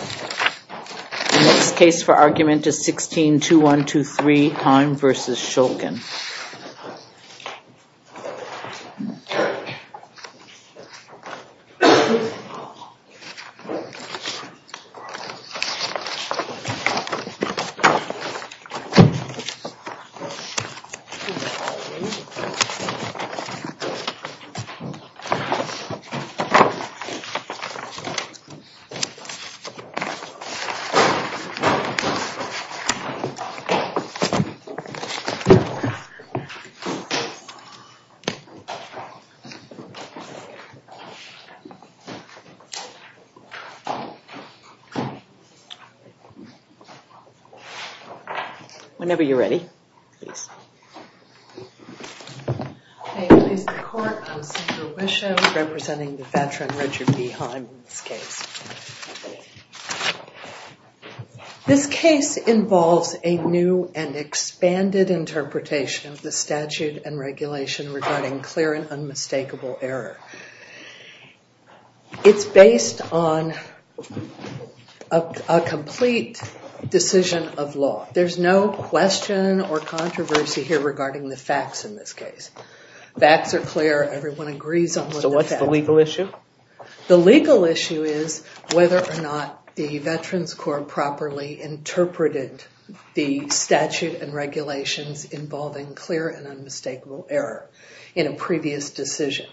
The next case for argument is 16-2123, Hime v. Shulkin. Whenever you're ready, please. I please the Court, I'm Senator Bishop representing the veteran Richard B. Hime in this case. This case involves a new and expanded interpretation of the statute and regulation regarding clear and unmistakable error. It's based on a complete decision of law. There's no question or controversy here regarding the facts in this case. Facts are clear, everyone agrees on what the facts are. So what's the legal issue? The legal issue is whether or not the Veterans Corp properly interpreted the statute and regulations involving clear and unmistakable error in a previous decision.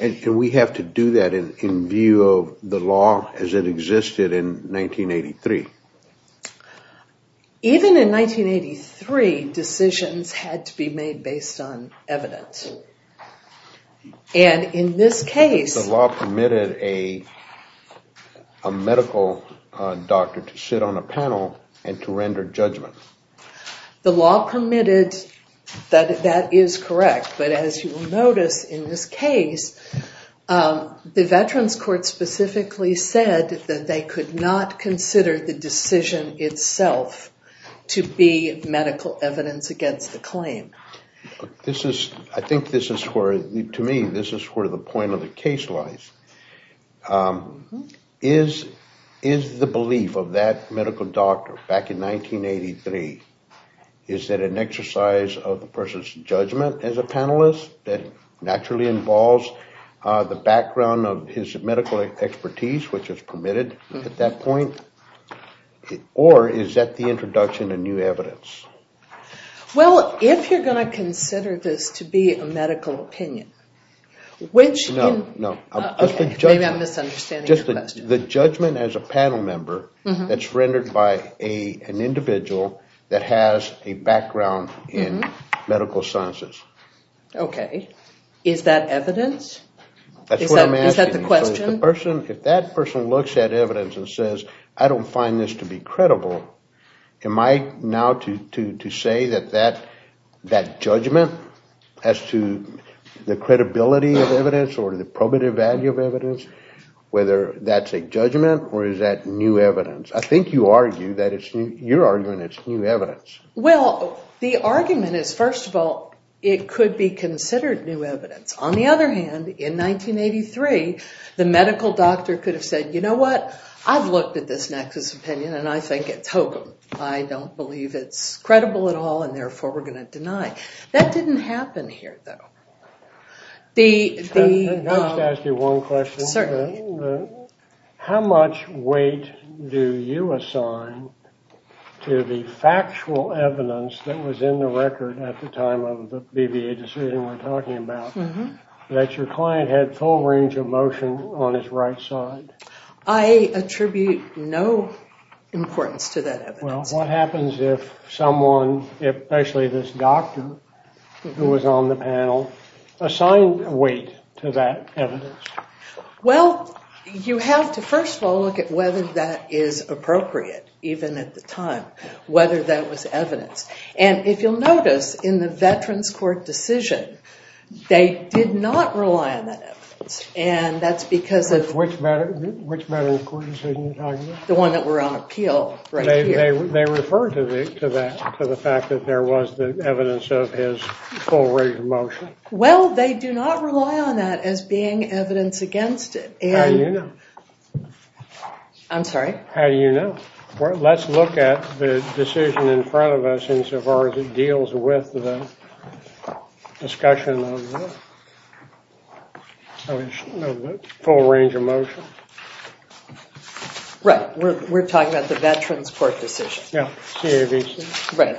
And we have to do that in view of the law as it existed in 1983. Even in 1983, decisions had to be made based on evidence. And in this case... The law permitted a medical doctor to sit on a panel and to render judgment. The law permitted, that is correct. But as you will notice in this case, the Veterans Court specifically said that they could not consider the decision itself to be medical evidence against the claim. I think this is where, to me, this is where the point of the case lies. Is the belief of that medical doctor back in 1983... Is that an exercise of the person's judgment as a panelist that naturally involves the background of his medical expertise, which is permitted at that point? Or is that the introduction of new evidence? Well, if you're going to consider this to be a medical opinion, which... No, no. Maybe I'm misunderstanding your question. The judgment as a panel member that's rendered by an individual that has a background in medical sciences. Okay. Is that evidence? That's what I'm asking. Is that the question? If that person looks at evidence and says, I don't find this to be credible, am I now to say that that judgment as to the credibility of evidence or the probative value of evidence, whether that's a judgment or is that new evidence? I think you argue that it's... You're arguing it's new evidence. Well, the argument is, first of all, it could be considered new evidence. On the other hand, in 1983, the medical doctor could have said, you know what? I've looked at this nexus opinion, and I think it's hokum. I don't believe it's credible at all, and therefore we're going to deny. That didn't happen here, though. The... Can I just ask you one question? Certainly. How much weight do you assign to the factual evidence that was in the record at the time of the BVA decision we're talking about that your client had full range of motion on his right side? I attribute no importance to that evidence. Well, what happens if someone, especially this doctor who was on the panel, assigned weight to that evidence? Well, you have to, first of all, look at whether that is appropriate, even at the time, whether that was evidence. And if you'll notice, in the Veterans Court decision, they did not rely on that evidence, and that's because of... Which medical court decision are you talking about? The one that we're on appeal right here. They referred to that, to the fact that there was evidence of his full range of motion. Well, they do not rely on that as being evidence against it. How do you know? I'm sorry? How do you know? Let's look at the decision in front of us insofar as it deals with the discussion of the full range of motion. Right. We're talking about the Veterans Court decision. Yeah, CAVC. Right.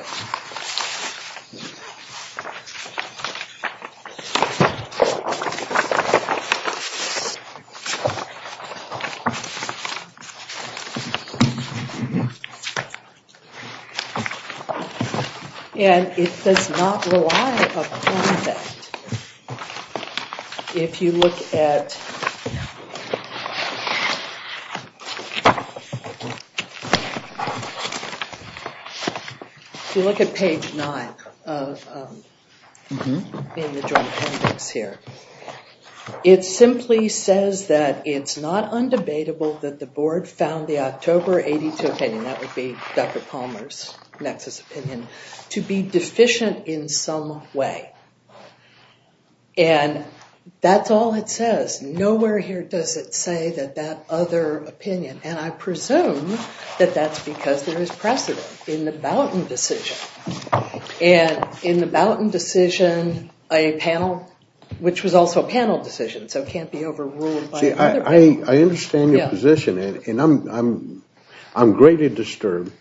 And it does not rely upon that if you look at... If you look at page 9 in the joint appendix here, it simply says that it's not undebatable that the board found the October 82 opinion, that would be Dr. Palmer's nexus opinion, to be deficient in some way. And that's all it says. Nowhere here does it say that that other opinion, and I presume that that's because there is precedent in the Boughton decision. And in the Boughton decision, a panel, which was also a panel decision, so it can't be overruled by another panel. I understand your position, and I'm greatly disturbed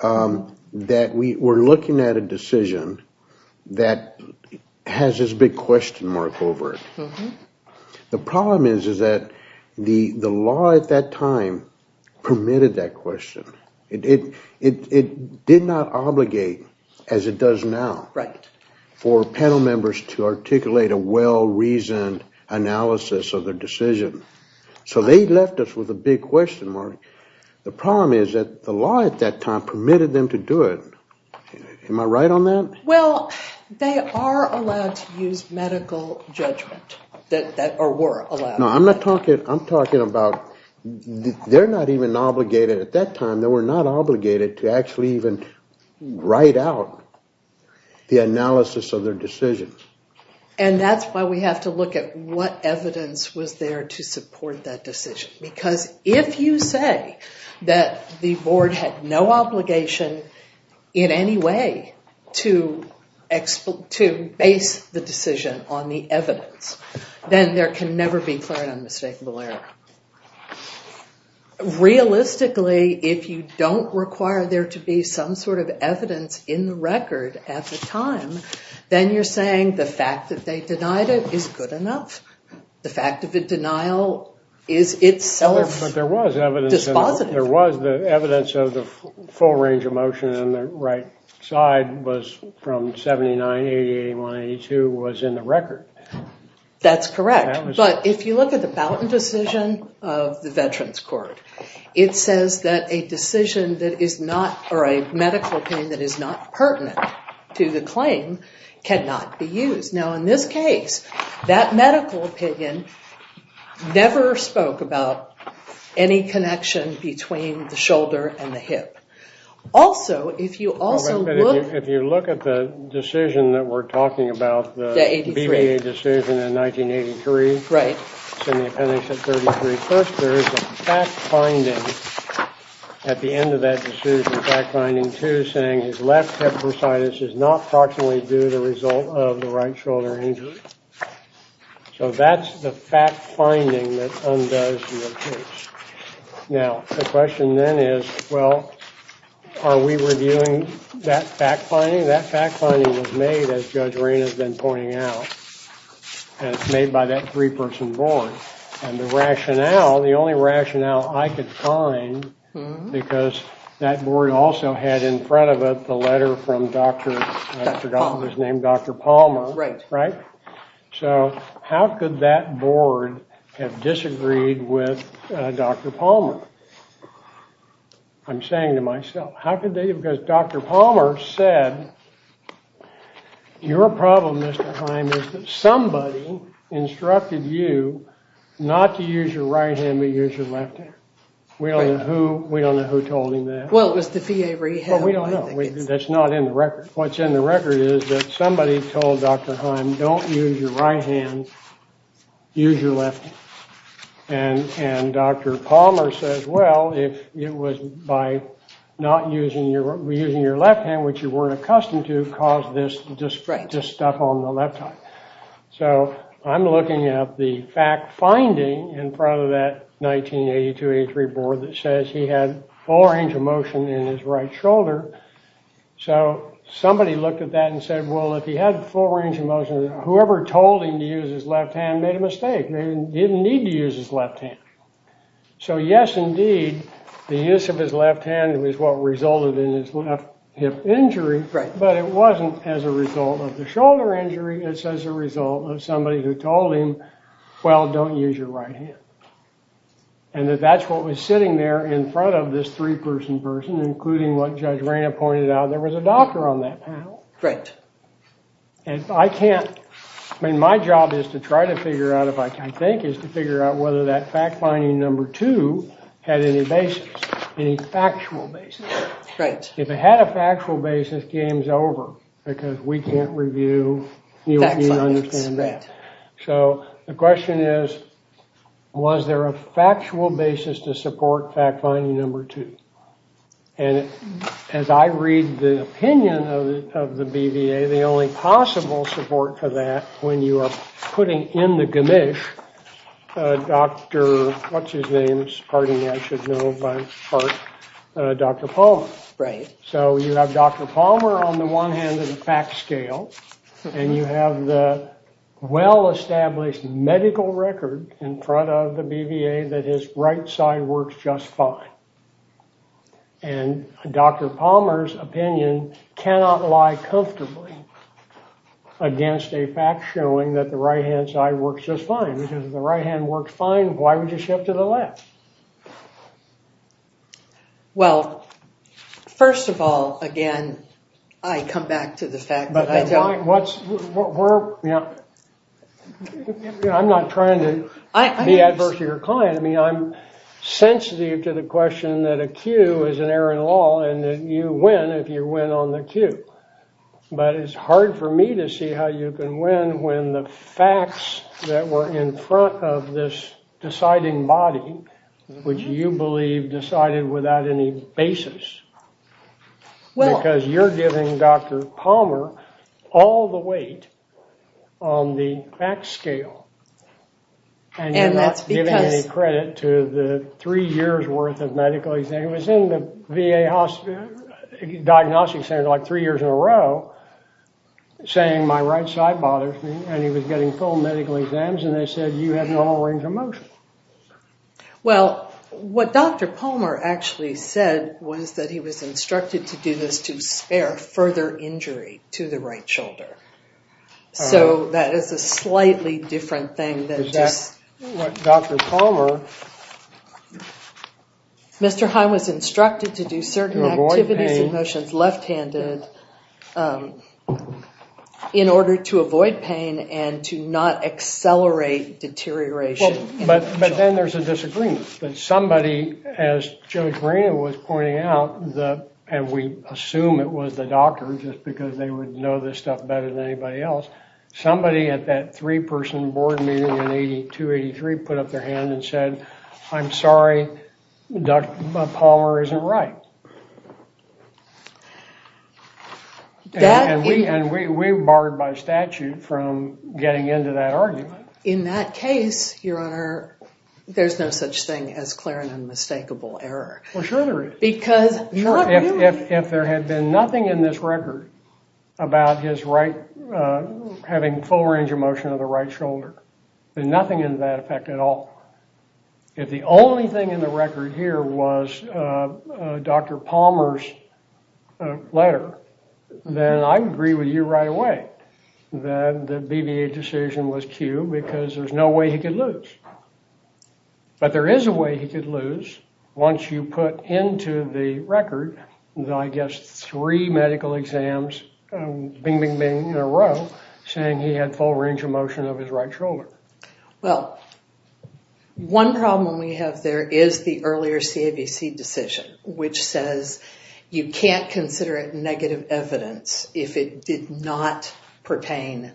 that we're looking at a decision that has this big question mark over it. The problem is that the law at that time permitted that question. It did not obligate, as it does now, for panel members to articulate a well-reasoned analysis of their decision. So they left us with a big question mark. The problem is that the law at that time permitted them to do it. Am I right on that? Well, they are allowed to use medical judgment, or were allowed. No, I'm not talking, I'm talking about, they're not even obligated at that time, they were not obligated to actually even write out the analysis of their decisions. And that's why we have to look at what evidence was there to support that decision. Because if you say that the board had no obligation in any way to base the decision on the evidence, then there can never be clear and unmistakable error. Realistically, if you don't require there to be some sort of evidence in the record at the time, then you're saying the fact that they denied it is good enough. The fact of the denial is itself dispositive. But there was evidence of the full range of motion on the right side was from 79, 88, 182 was in the record. That's correct. But if you look at the Balton decision of the Veterans Court, it says that a decision that is not, or a medical opinion that is not pertinent to the claim cannot be used. Now, in this case, that medical opinion never spoke about any connection between the shoulder and the hip. Also, if you also look... If you look at the decision that we're talking about, the BVA decision in 1983, it's in the appendix at 33 first, there is a fact finding at the end of that decision, saying his left hip bursitis is not proximally due to the result of the right shoulder injury. So that's the fact finding that undoes your case. Now, the question then is, well, are we reviewing that fact finding? That fact finding was made, as Judge Rayne has been pointing out, and it's made by that three-person board. And the rationale, the only rationale I could find, because that board also had in front of it the letter from Dr. Palmer, right? So how could that board have disagreed with Dr. Palmer? I'm saying to myself, how could they? Because Dr. Palmer said, your problem, Mr. Heim, is that somebody instructed you not to use your right hand, but use your left hand. We don't know who told him that. Well, it was the VA Rehab. Well, we don't know. That's not in the record. What's in the record is that somebody told Dr. Heim, don't use your right hand, use your left hand. And Dr. Palmer says, well, if it was by not using your left hand, which you weren't accustomed to, caused this to just stuff on the left side. So I'm looking at the fact finding in front of that 1982-83 board that says he had full range of motion in his right shoulder. So somebody looked at that and said, well, if he had full range of motion, whoever told him to use his left hand made a mistake. They didn't need to use his left hand. So yes, indeed, the use of his left hand was what resulted in his left hip injury. But it wasn't as a result of the shoulder injury. It's as a result of somebody who told him, well, don't use your right hand. And that's what was sitting there in front of this three-person person, including what Judge Raina pointed out. There was a doctor on that panel. Right. And I can't, I mean, my job is to try to figure out, if I can think, is to figure out whether that fact finding number two had any basis, any factual basis. Right. If it had a factual basis, game's over, because we can't review. Fact findings, right. So the question is, was there a factual basis to support fact finding number two? And as I read the opinion of the BVA, the only possible support for that, when you are putting in the ganish, Dr. what's-his-name's, pardon me, I should know by heart, Dr. Palmer. Right. So you have Dr. Palmer on the one hand of the fact scale, and you have the well-established medical record in front of the BVA that his right side works just fine. And Dr. Palmer's opinion cannot lie comfortably against a fact showing that the right-hand side works just fine, because if the right hand works fine, why would you shift to the left? Well, first of all, again, I come back to the fact that- But I'm not trying to be adverse to your client. I mean, I'm sensitive to the question that a cue is an error in the law, and that you win if you win on the cue. But it's hard for me to see how you can win when the facts that were in front of this deciding body, which you believe decided without any basis, because you're giving Dr. Palmer all the weight on the fact scale. And that's because- And you're not giving any credit to the three years' worth of medical exams. He was in the VA Diagnostics Center like three years in a row, saying my right side bothers me, and he was getting full medical exams, and they said, you have a normal range of motion. Well, what Dr. Palmer actually said was that he was instructed to do this to spare further injury to the right shoulder. So that is a slightly different thing than just- Is that what Dr. Palmer- Mr. Heim was instructed to do certain activities- To avoid pain. in order to avoid pain and to not accelerate deterioration. But then there's a disagreement. Somebody, as Judge Marina was pointing out, and we assume it was the doctor, just because they would know this stuff better than anybody else, somebody at that three-person board meeting in 82-83 put up their hand and said, I'm sorry, Dr. Palmer isn't right. And we were barred by statute from getting into that argument. In that case, Your Honor, there's no such thing as clear and unmistakable error. Well, sure there is. Because- If there had been nothing in this record about his right- having full range of motion of the right shoulder, then nothing in that effect at all. If the only thing in the record here was Dr. Palmer's letter, then I would agree with you right away that the BVA decision was cued because there's no way he could lose. But there is a way he could lose once you put into the record, I guess, three medical exams, bing, bing, bing in a row saying he had full range of motion of his right shoulder. Well, one problem we have there is the earlier CABC decision, which says you can't consider it negative evidence if it did not pertain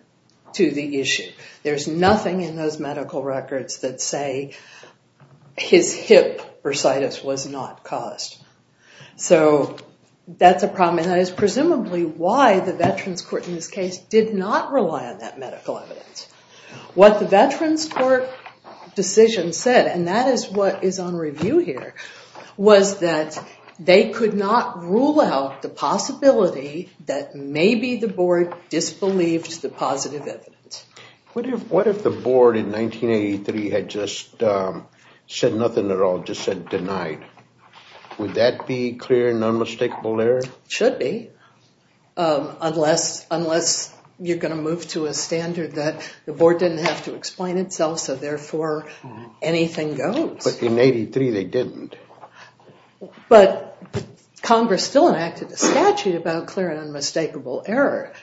to the issue. There's nothing in those medical records that say his hip bursitis was not caused. So that's a problem, and that is presumably why the Veterans Court in this case did not rely on that medical evidence. What the Veterans Court decision said, and that is what is on review here, was that they could not rule out the possibility that maybe the board disbelieved the positive evidence. What if the board in 1983 had just said nothing at all, just said denied? Would that be clear and unmistakable error? It should be, unless you're going to move to a standard that the board didn't have to explain itself, so therefore anything goes. But in 1983 they didn't. But Congress still enacted a statute about clear and unmistakable error,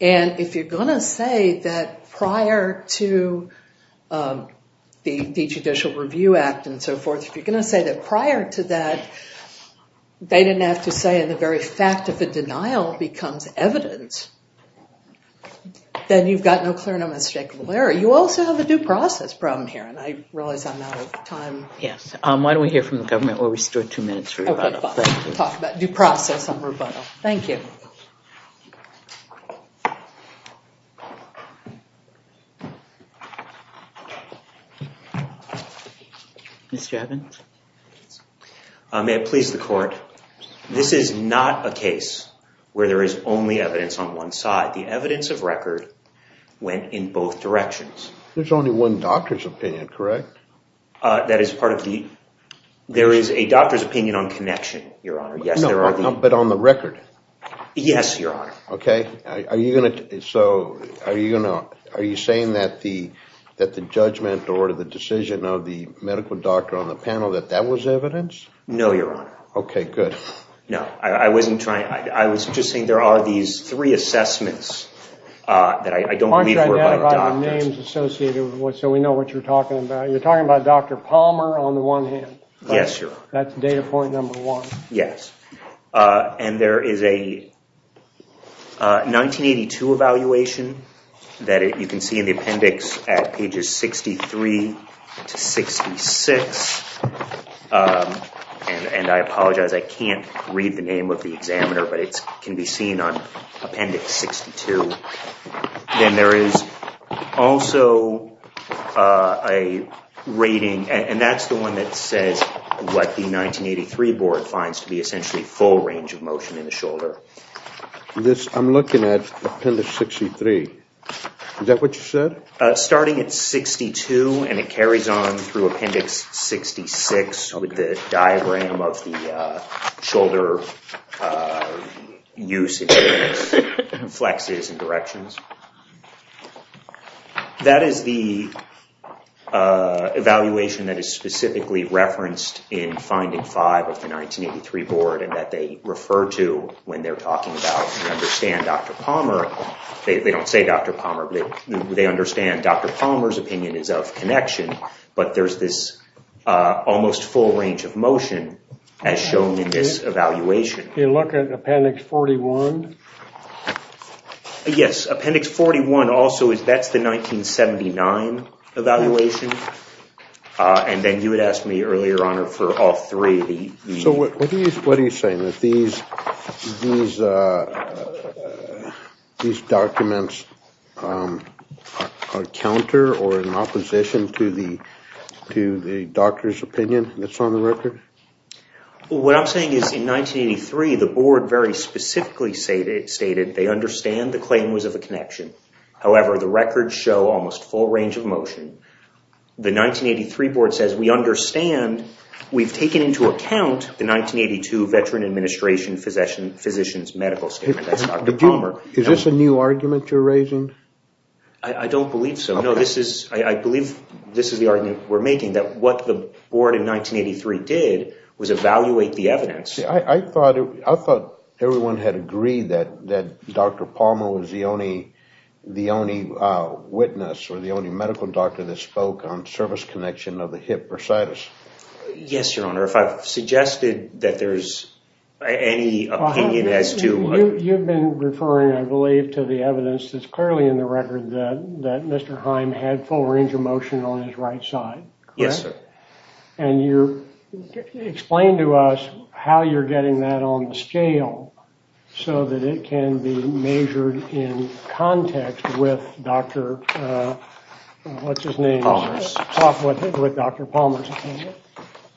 and if you're going to say that prior to the Judicial Review Act and so forth, if you're going to say that prior to that they didn't have to say the very fact of the denial becomes evidence, then you've got no clear and unmistakable error. You also have a due process problem here, and I realize I'm out of time. Yes. Why don't we hear from the government? We'll restore two minutes for rebuttal. Okay, fine. We'll talk about due process on rebuttal. Thank you. Mr. Evans? May it please the Court, this is not a case where there is only evidence on one side. The evidence of record went in both directions. There's only one doctor's opinion, correct? That is part of the – there is a doctor's opinion on connection, Your Honor. Yes, there are. But on the record. Yes, Your Honor. Okay. Are you going to – so are you saying that the judgment or the decision of the medical doctor on the panel, that that was evidence? No, Your Honor. Okay, good. No, I wasn't trying – I was just saying there are these three assessments that I don't believe were by doctors. Why don't you identify the names associated with – so we know what you're talking about. You're talking about Dr. Palmer on the one hand. Yes, Your Honor. That's data point number one. Yes. And there is a 1982 evaluation that you can see in the appendix at pages 63 to 66. And I apologize, I can't read the name of the examiner, but it can be seen on appendix 62. Then there is also a rating, and that's the one that says what the 1983 board finds to be essentially full range of motion in the shoulder. I'm looking at appendix 63. Is that what you said? Starting at 62, and it carries on through appendix 66 with the diagram of the shoulder usage, flexes, and directions. That is the evaluation that is specifically referenced in finding five of the 1983 board and that they refer to when they're talking about, they don't say Dr. Palmer, but they understand Dr. Palmer's opinion is of connection. But there's this almost full range of motion as shown in this evaluation. Can you look at appendix 41? Yes. Appendix 41 also, that's the 1979 evaluation. And then you had asked me earlier, Your Honor, for all three. So what are you saying, that these documents are counter or in opposition to the doctor's opinion that's on the record? What I'm saying is in 1983, the board very specifically stated they understand the claim was of a connection. However, the records show almost full range of motion. The 1983 board says we understand, we've taken into account the 1982 Veteran Administration Physician's Medical Statement. That's Dr. Palmer. Is this a new argument you're raising? I don't believe so. No, I believe this is the argument we're making, that what the board in 1983 did was evaluate the evidence. I thought everyone had agreed that Dr. Palmer was the only witness or the only medical doctor that spoke on service connection of the hip bursitis. Yes, Your Honor. If I've suggested that there's any opinion as to... You've been referring, I believe, to the evidence that's clearly in the record that Mr. Heim had full range of motion on his right side. Yes, sir. Explain to us how you're getting that on the scale so that it can be measured in context with Dr. Palmer's opinion.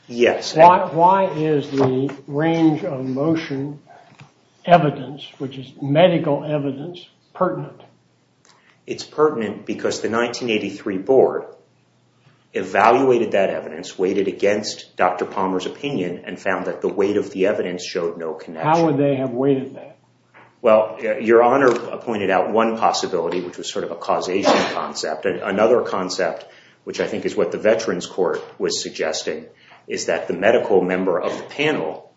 Yes. Why is the range of motion evidence, which is medical evidence, pertinent? It's pertinent because the 1983 board evaluated that evidence, weighted against Dr. Palmer's opinion, and found that the weight of the evidence showed no connection. How would they have weighted that? Well, Your Honor pointed out one possibility, which was sort of a causation concept. Another concept, which I think is what the Veterans Court was suggesting, is that the medical member of the panel,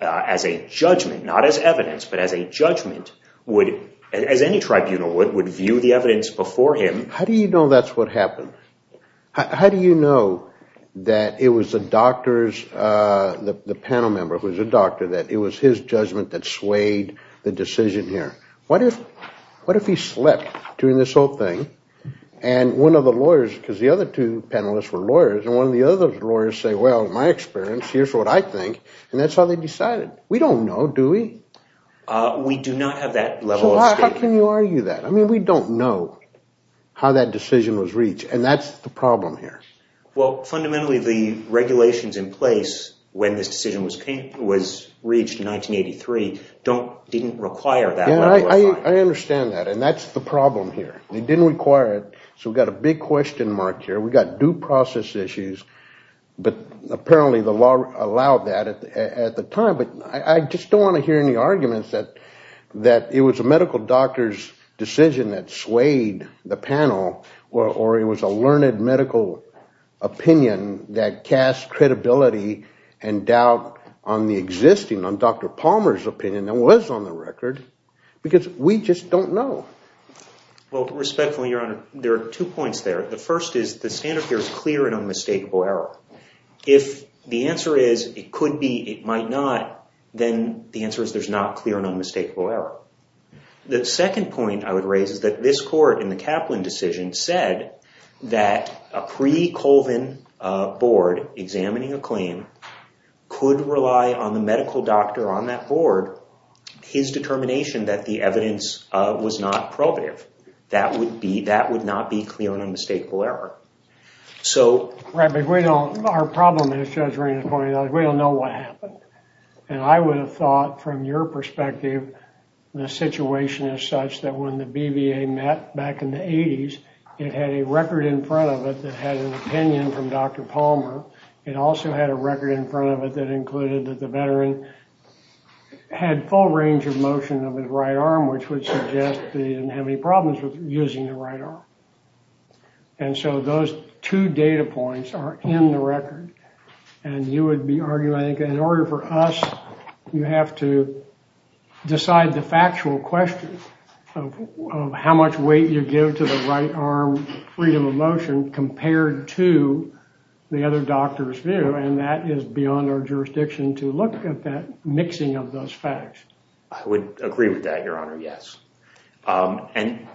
as a judgment, not as evidence, but as a judgment, would, as any tribunal would, would view the evidence before him. How do you know that's what happened? How do you know that it was the doctor's, the panel member who was a doctor, that it was his judgment that swayed the decision here? What if he slept during this whole thing, and one of the lawyers, because the other two panelists were lawyers, and one of the other lawyers said, well, in my experience, here's what I think, and that's how they decided? We don't know, do we? We do not have that level of statement. So how can you argue that? I mean, we don't know how that decision was reached, and that's the problem here. Well, fundamentally, the regulations in place, when this decision was reached in 1983, didn't require that. Yeah, I understand that, and that's the problem here. They didn't require it. So we've got a big question mark here. We've got due process issues. But apparently the law allowed that at the time, but I just don't want to hear any arguments that it was a medical doctor's decision that swayed the panel, or it was a learned medical opinion that cast credibility and doubt on the existing, on Dr. Palmer's opinion that was on the record, because we just don't know. Well, respectfully, Your Honor, there are two points there. The first is the standard here is clear and unmistakable error. If the answer is it could be, it might not, then the answer is there's not clear and unmistakable error. The second point I would raise is that this court, in the Kaplan decision, said that a pre-Colvin board examining a claim could rely on the medical doctor on that board, his determination that the evidence was not probative. That would not be clear and unmistakable error. Right, but we don't, our problem is Judge Raines pointed out, we don't know what happened. And I would have thought, from your perspective, the situation is such that when the BVA met back in the 80s, it had a record in front of it that had an opinion from Dr. Palmer. It also had a record in front of it that included that the veteran had full range of motion of his right arm, which would suggest that he didn't have any problems with using the right arm. And so those two data points are in the record. And you would be arguing, I think, in order for us, you have to decide the factual question of how much weight you give to the right arm freedom of motion compared to the other doctor's view. And that is beyond our jurisdiction to look at that mixing of those facts. I would agree with that, Your Honor, yes. And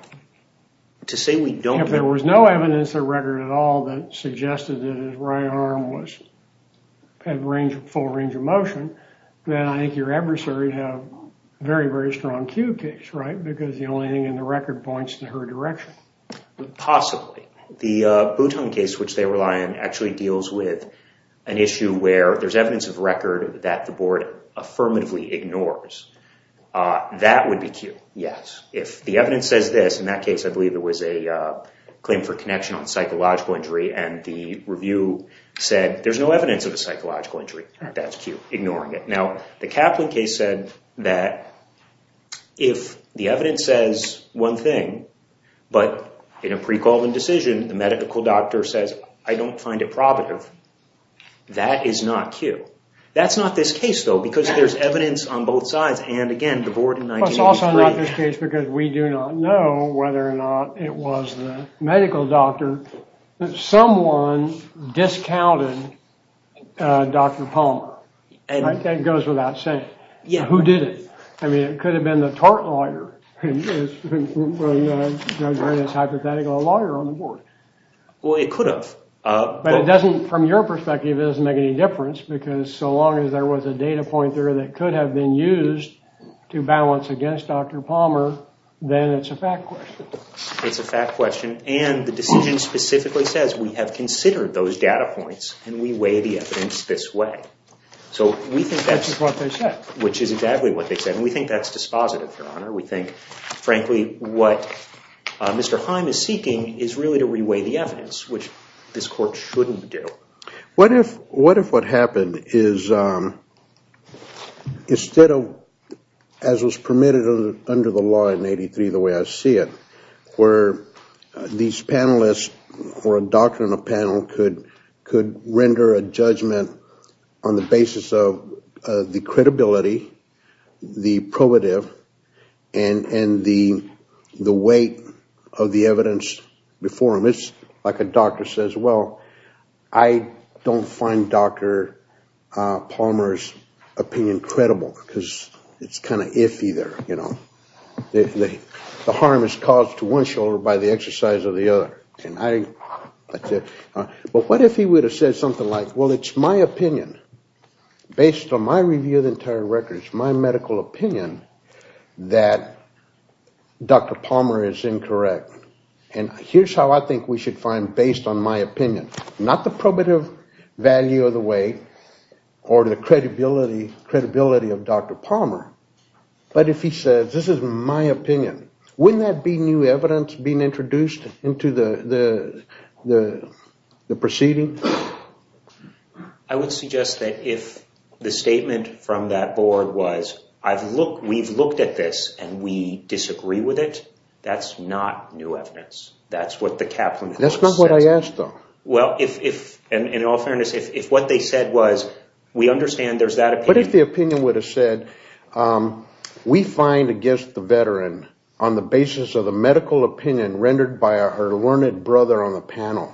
to say we don't... If there was no evidence of record at all that suggested that his right arm had full range of motion, then I think your adversary would have a very, very strong cue case, right? Because the only thing in the record points in her direction. Possibly. The Bouton case, which they rely on, actually deals with an issue where there's evidence of record that the board affirmatively ignores. That would be cue, yes. If the evidence says this, in that case, I believe it was a claim for connection on psychological injury, and the review said there's no evidence of a psychological injury, that's cue, ignoring it. Now, the Kaplan case said that if the evidence says one thing, but in a pre-called decision, the medical doctor says, I don't find it probative, that is not cue. That's not this case, though, because there's evidence on both sides. And, again, the board in 1983... That's also not this case because we do not know whether or not it was the medical doctor that someone discounted Dr. Palmer. That goes without saying. Who did it? I mean, it could have been the tort lawyer. It's hypothetical, a lawyer on the board. Well, it could have. But it doesn't, from your perspective, it doesn't make any difference because so long as there was a data point there that could have been used to balance against Dr. Palmer, then it's a fact question. It's a fact question, and the decision specifically says we have considered those data points, and we weigh the evidence this way. So we think that's... Which is what they said. Which is exactly what they said, and we think that's dispositive, Your Honor. We think, frankly, what Mr. Heim is seeking is really to reweigh the evidence, which this court shouldn't do. What if what happened is instead of, as was permitted under the law in 1983 the way I see it, where these panelists or a doctor and a panel could render a judgment on the basis of the credibility, the probative, and the weight of the evidence before them? So it's like a doctor says, well, I don't find Dr. Palmer's opinion credible because it's kind of iffy there. The harm is caused to one shoulder by the exercise of the other. But what if he would have said something like, well, it's my opinion, based on my review of the entire record, it's my medical opinion that Dr. Palmer is incorrect. And here's how I think we should find based on my opinion. Not the probative value of the weight or the credibility of Dr. Palmer, but if he says this is my opinion, wouldn't that be new evidence being introduced into the proceeding? I would suggest that if the statement from that board was, we've looked at this and we disagree with it, that's not new evidence. That's not what I asked, though. In all fairness, if what they said was, we understand there's that opinion. What if the opinion would have said, we find against the veteran on the basis of the medical opinion rendered by her learned brother on the panel?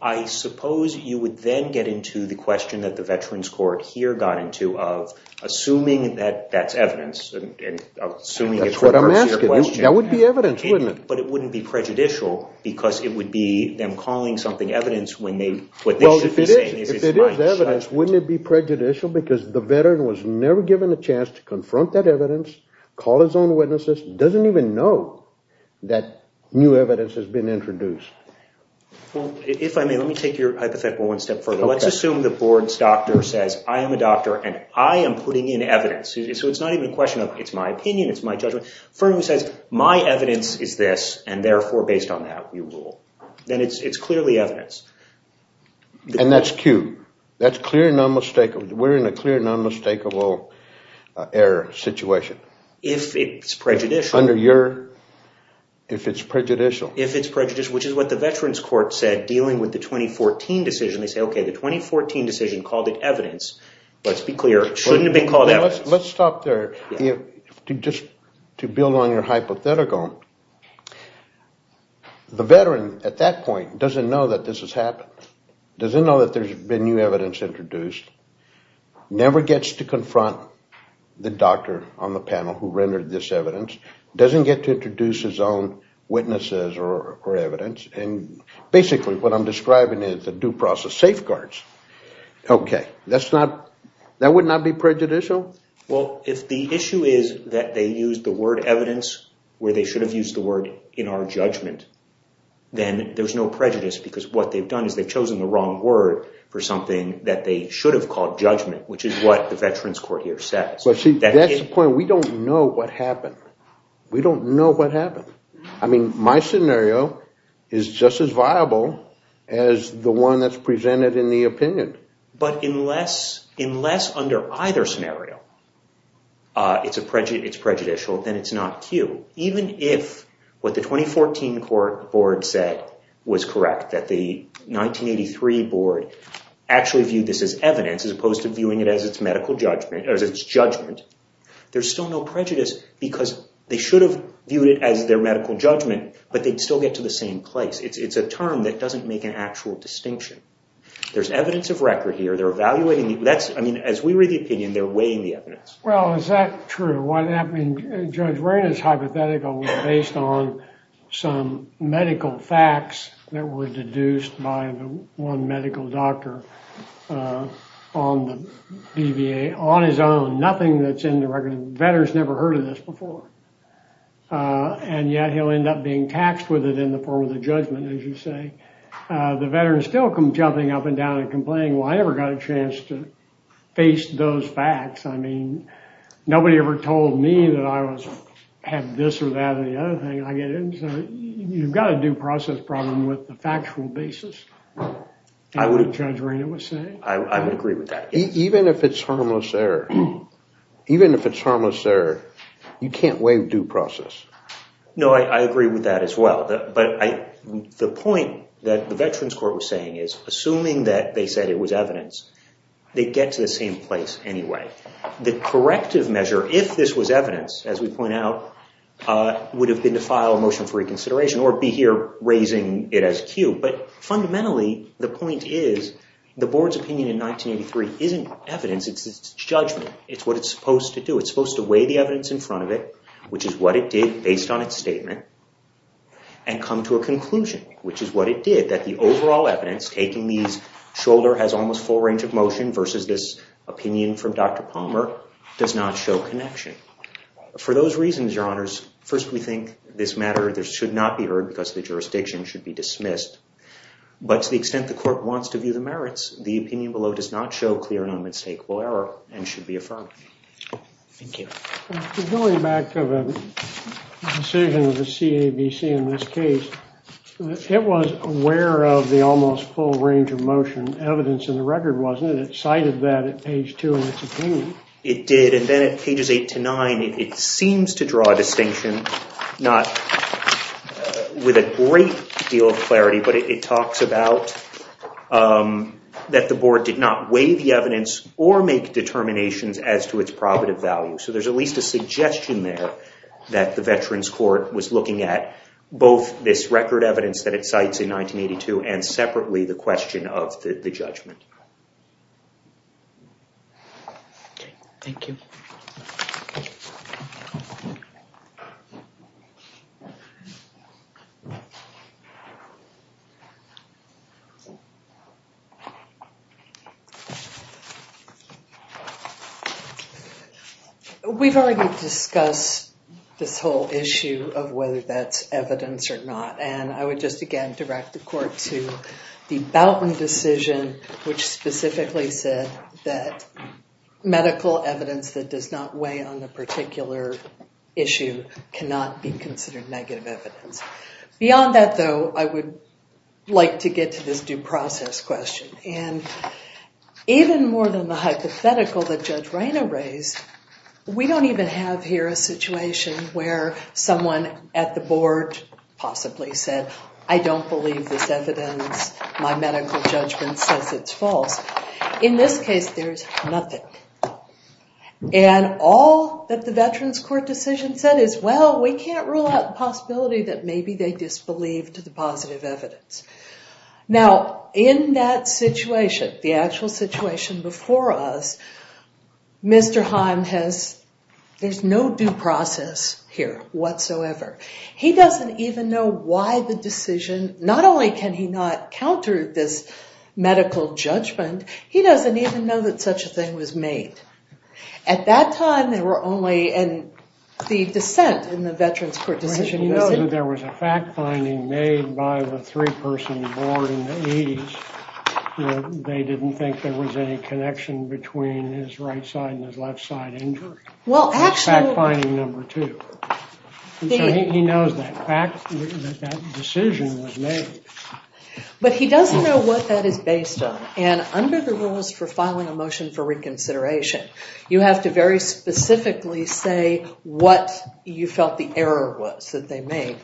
I suppose you would then get into the question that the Veterans Court here got into of assuming that that's evidence. That's what I'm asking. That would be evidence, wouldn't it? But it wouldn't be prejudicial because it would be them calling something evidence when what they should be saying is it's my judgment. If it is evidence, wouldn't it be prejudicial because the veteran was never given a chance to confront that evidence, call his own witnesses, doesn't even know that new evidence has been introduced? Well, if I may, let me take your hypothetical one step further. Let's assume the board's doctor says, I am a doctor and I am putting in evidence. So it's not even a question of it's my opinion, it's my judgment. If a firm says, my evidence is this and therefore based on that we rule, then it's clearly evidence. And that's Q. That's clear and non-mistakable. We're in a clear and non-mistakable error situation. If it's prejudicial. Under your, if it's prejudicial. If it's prejudicial, which is what the Veterans Court said dealing with the 2014 decision. They say, okay, the 2014 decision called it evidence. Let's be clear, it shouldn't have been called evidence. Let's stop there. Just to build on your hypothetical. The veteran at that point doesn't know that this has happened. Doesn't know that there's been new evidence introduced. Never gets to confront the doctor on the panel who rendered this evidence. Doesn't get to introduce his own witnesses or evidence. And basically what I'm describing is the due process safeguards. Okay, that's not, that would not be prejudicial. Well, if the issue is that they use the word evidence where they should have used the word in our judgment. Then there's no prejudice because what they've done is they've chosen the wrong word for something that they should have called judgment. Which is what the Veterans Court here says. That's the point. We don't know what happened. We don't know what happened. I mean, my scenario is just as viable as the one that's presented in the opinion. But unless under either scenario it's prejudicial, then it's not Q. Even if what the 2014 court board said was correct. That the 1983 board actually viewed this as evidence as opposed to viewing it as its medical judgment, as its judgment. There's still no prejudice because they should have viewed it as their medical judgment. But they'd still get to the same place. It's a term that doesn't make an actual distinction. There's evidence of record here. They're evaluating. That's, I mean, as we read the opinion, they're weighing the evidence. Well, is that true? What happened? Judge Raina's hypothetical was based on some medical facts that were deduced by the one medical doctor on the BVA on his own. Nothing that's in the record. The veteran's never heard of this before. And yet he'll end up being taxed with it in the form of the judgment, as you say. The veteran's still jumping up and down and complaining, well, I never got a chance to face those facts. I mean, nobody ever told me that I had this or that or the other thing. You've got a due process problem with the factual basis, as Judge Raina was saying. I would agree with that. Even if it's harmless error, even if it's harmless error, you can't weigh due process. No, I agree with that as well. But the point that the Veterans Court was saying is, assuming that they said it was evidence, they'd get to the same place anyway. The corrective measure, if this was evidence, as we point out, would have been to file a motion for reconsideration or be here raising it as cue. But fundamentally, the point is, the board's opinion in 1983 isn't evidence. It's judgment. It's what it's supposed to do. It's supposed to weigh the evidence in front of it, which is what it did based on its statement, and come to a conclusion, which is what it did, that the overall evidence, taking these shoulder has almost full range of motion versus this opinion from Dr. Palmer, does not show connection. For those reasons, Your Honors, first we think this matter should not be heard because the jurisdiction should be dismissed. But to the extent the court wants to view the merits, the opinion below does not show clear and unmistakable error and should be affirmed. Thank you. Going back to the decision of the CABC in this case, it was aware of the almost full range of motion evidence in the record, wasn't it? It cited that at page 2 in its opinion. It did. And then at pages 8 to 9, it seems to draw a distinction, not with a great deal of clarity, but it talks about that the board did not weigh the evidence or make determinations as to its probative value. So there's at least a suggestion there that the Veterans Court was looking at both this record evidence that it cites in 1982 and separately the question of the judgment. Thank you. We've already discussed this whole issue of whether that's evidence or not. And I would just again direct the court to the Boutman decision, which specifically said that medical evidence that does not weigh on the particular issue cannot be considered negative evidence. Beyond that, though, I would like to get to this due process question. And even more than the hypothetical that Judge Reina raised, we don't even have here a situation where someone at the board possibly said, I don't believe this evidence. My medical judgment says it's false. In this case, there's nothing. And all that the Veterans Court decision said is, well, we can't rule out the possibility that maybe they disbelieved the positive evidence. Now, in that situation, the actual situation before us, Mr. Haim has, there's no due process here whatsoever. He doesn't even know why the decision, not only can he not counter this medical judgment, he doesn't even know that such a thing was made. At that time, there were only, and the dissent in the Veterans Court decision. There was a fact-finding made by the three-person board in the 80s. They didn't think there was any connection between his right side and his left side injury. Well, actually. Fact-finding number two. He knows that decision was made. But he doesn't know what that is based on. And under the rules for filing a motion for reconsideration, you have to very specifically say what you felt the error was that they made.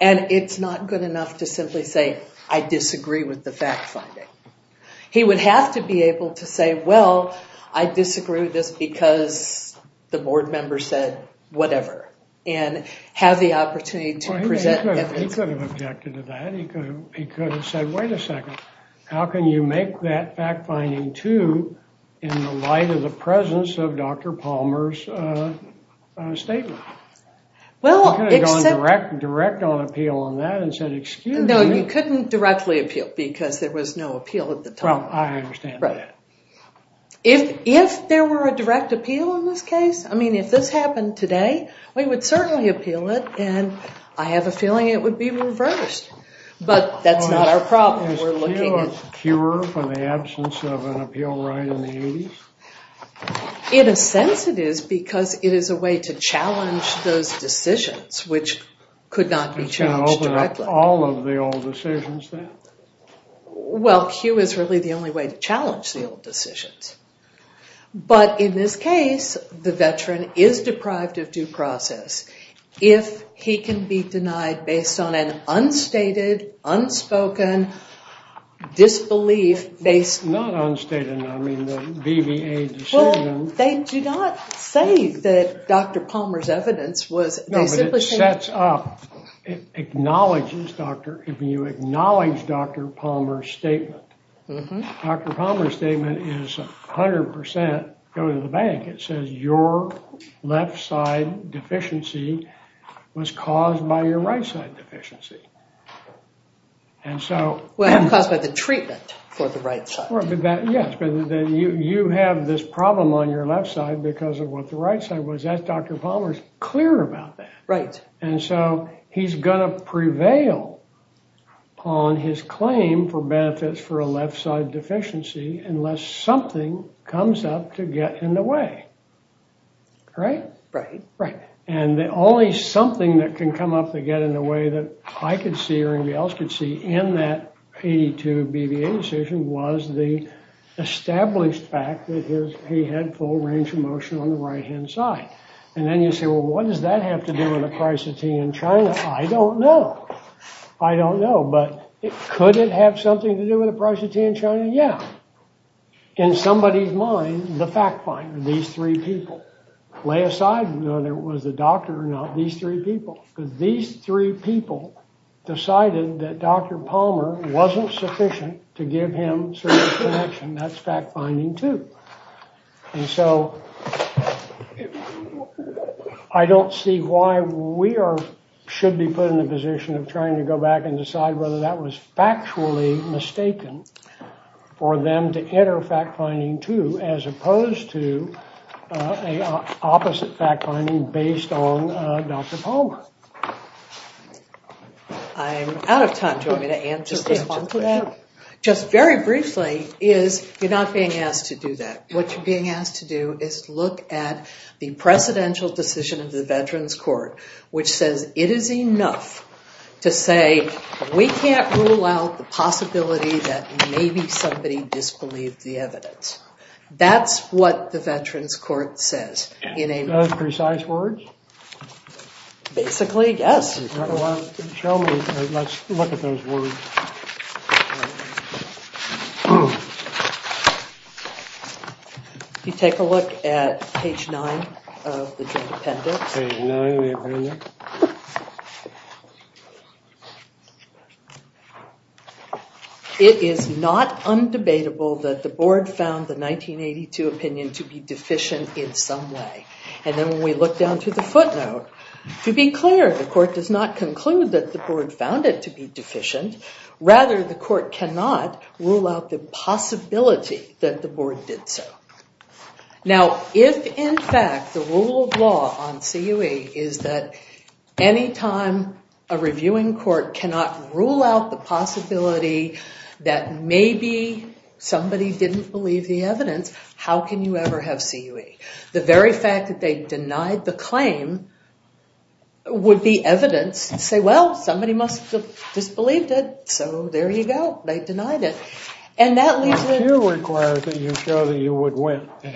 And it's not good enough to simply say, I disagree with the fact-finding. He would have to be able to say, well, I disagree with this because the board member said whatever. And have the opportunity to present evidence. He could have objected to that. He could have said, wait a second. How can you make that fact-finding two in the light of the presence of Dr. Palmer's statement? He could have gone direct on appeal on that and said, excuse me. No, you couldn't directly appeal because there was no appeal at the time. Well, I understand that. If there were a direct appeal in this case, I mean, if this happened today, we would certainly appeal it. And I have a feeling it would be reversed. But that's not our problem. Is Q a cure for the absence of an appeal right in the 80s? In a sense, it is because it is a way to challenge those decisions, which could not be challenged directly. It's going to open up all of the old decisions then? Well, Q is really the only way to challenge the old decisions. But in this case, the veteran is deprived of due process if he can be denied based on an unstated, unspoken disbelief based. Not unstated. I mean, the BBA decision. Well, they do not say that Dr. Palmer's evidence was. No, but it sets up, it acknowledges Dr. Palmer's statement. Dr. Palmer's statement is 100% going to the bank. It says your left side deficiency was caused by your right side deficiency. And so. Well, it was caused by the treatment for the right side. Yes, but then you have this problem on your left side because of what the right side was. That's Dr. Palmer's clear about that. Right. And so he's going to prevail on his claim for benefits for a left side deficiency unless something comes up to get in the way. Right, right, right. And the only something that can come up to get in the way that I could see or anybody else could see in that 82 BBA decision was the established fact that he had full range of motion on the right hand side. And then you say, well, what does that have to do with the price of tea in China? I don't know. I don't know. But could it have something to do with the price of tea in China? Yeah. In somebody's mind, the fact finder, these three people, lay aside whether it was the doctor or not, these three people. These three people decided that Dr. Palmer wasn't sufficient to give him connection. That's fact finding, too. And so I don't see why we should be put in the position of trying to go back and decide whether that was factually mistaken for them to enter fact finding, too, as opposed to an opposite fact finding based on Dr. Palmer. I'm out of time. Do you want me to answer the question? Just very briefly is you're not being asked to do that. What you're being asked to do is look at the precedential decision of the Veterans Court, which says it is enough to say we can't rule out the possibility that maybe somebody disbelieved the evidence. That's what the Veterans Court says. In precise words? Basically, yes. Show me. Let's look at those words. You take a look at page nine of the joint appendix. Page nine of the appendix. It is not undebatable that the board found the 1982 opinion to be deficient in some way. And then when we look down to the footnote, to be clear, the court does not conclude that the board found it to be deficient. Rather, the court cannot rule out the possibility that the board did so. Now, if, in fact, the rule of law on CUE is that any time a reviewing court cannot rule out the possibility that maybe somebody didn't believe the evidence, how can you ever have CUE? The very fact that they denied the claim would be evidence to say, well, somebody must have disbelieved it. So there you go. They denied it. And that leaves it. CUE requires that you show that you would win. An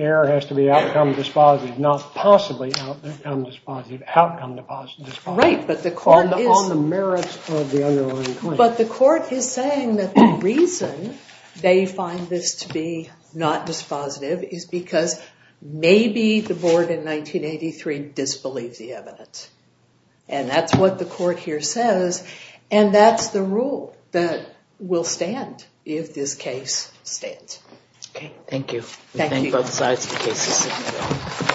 error has to be outcome dispositive, not possibly outcome dispositive. Outcome dispositive. Right. But the court is. On the merits of the underlying claim. But the court is saying that the reason they find this to be not dispositive is because maybe the board in 1983 disbelieved the evidence. And that's what the court here says. And that's the rule that will stand if this case stands. OK. Thank you. Thank you both sides of the case.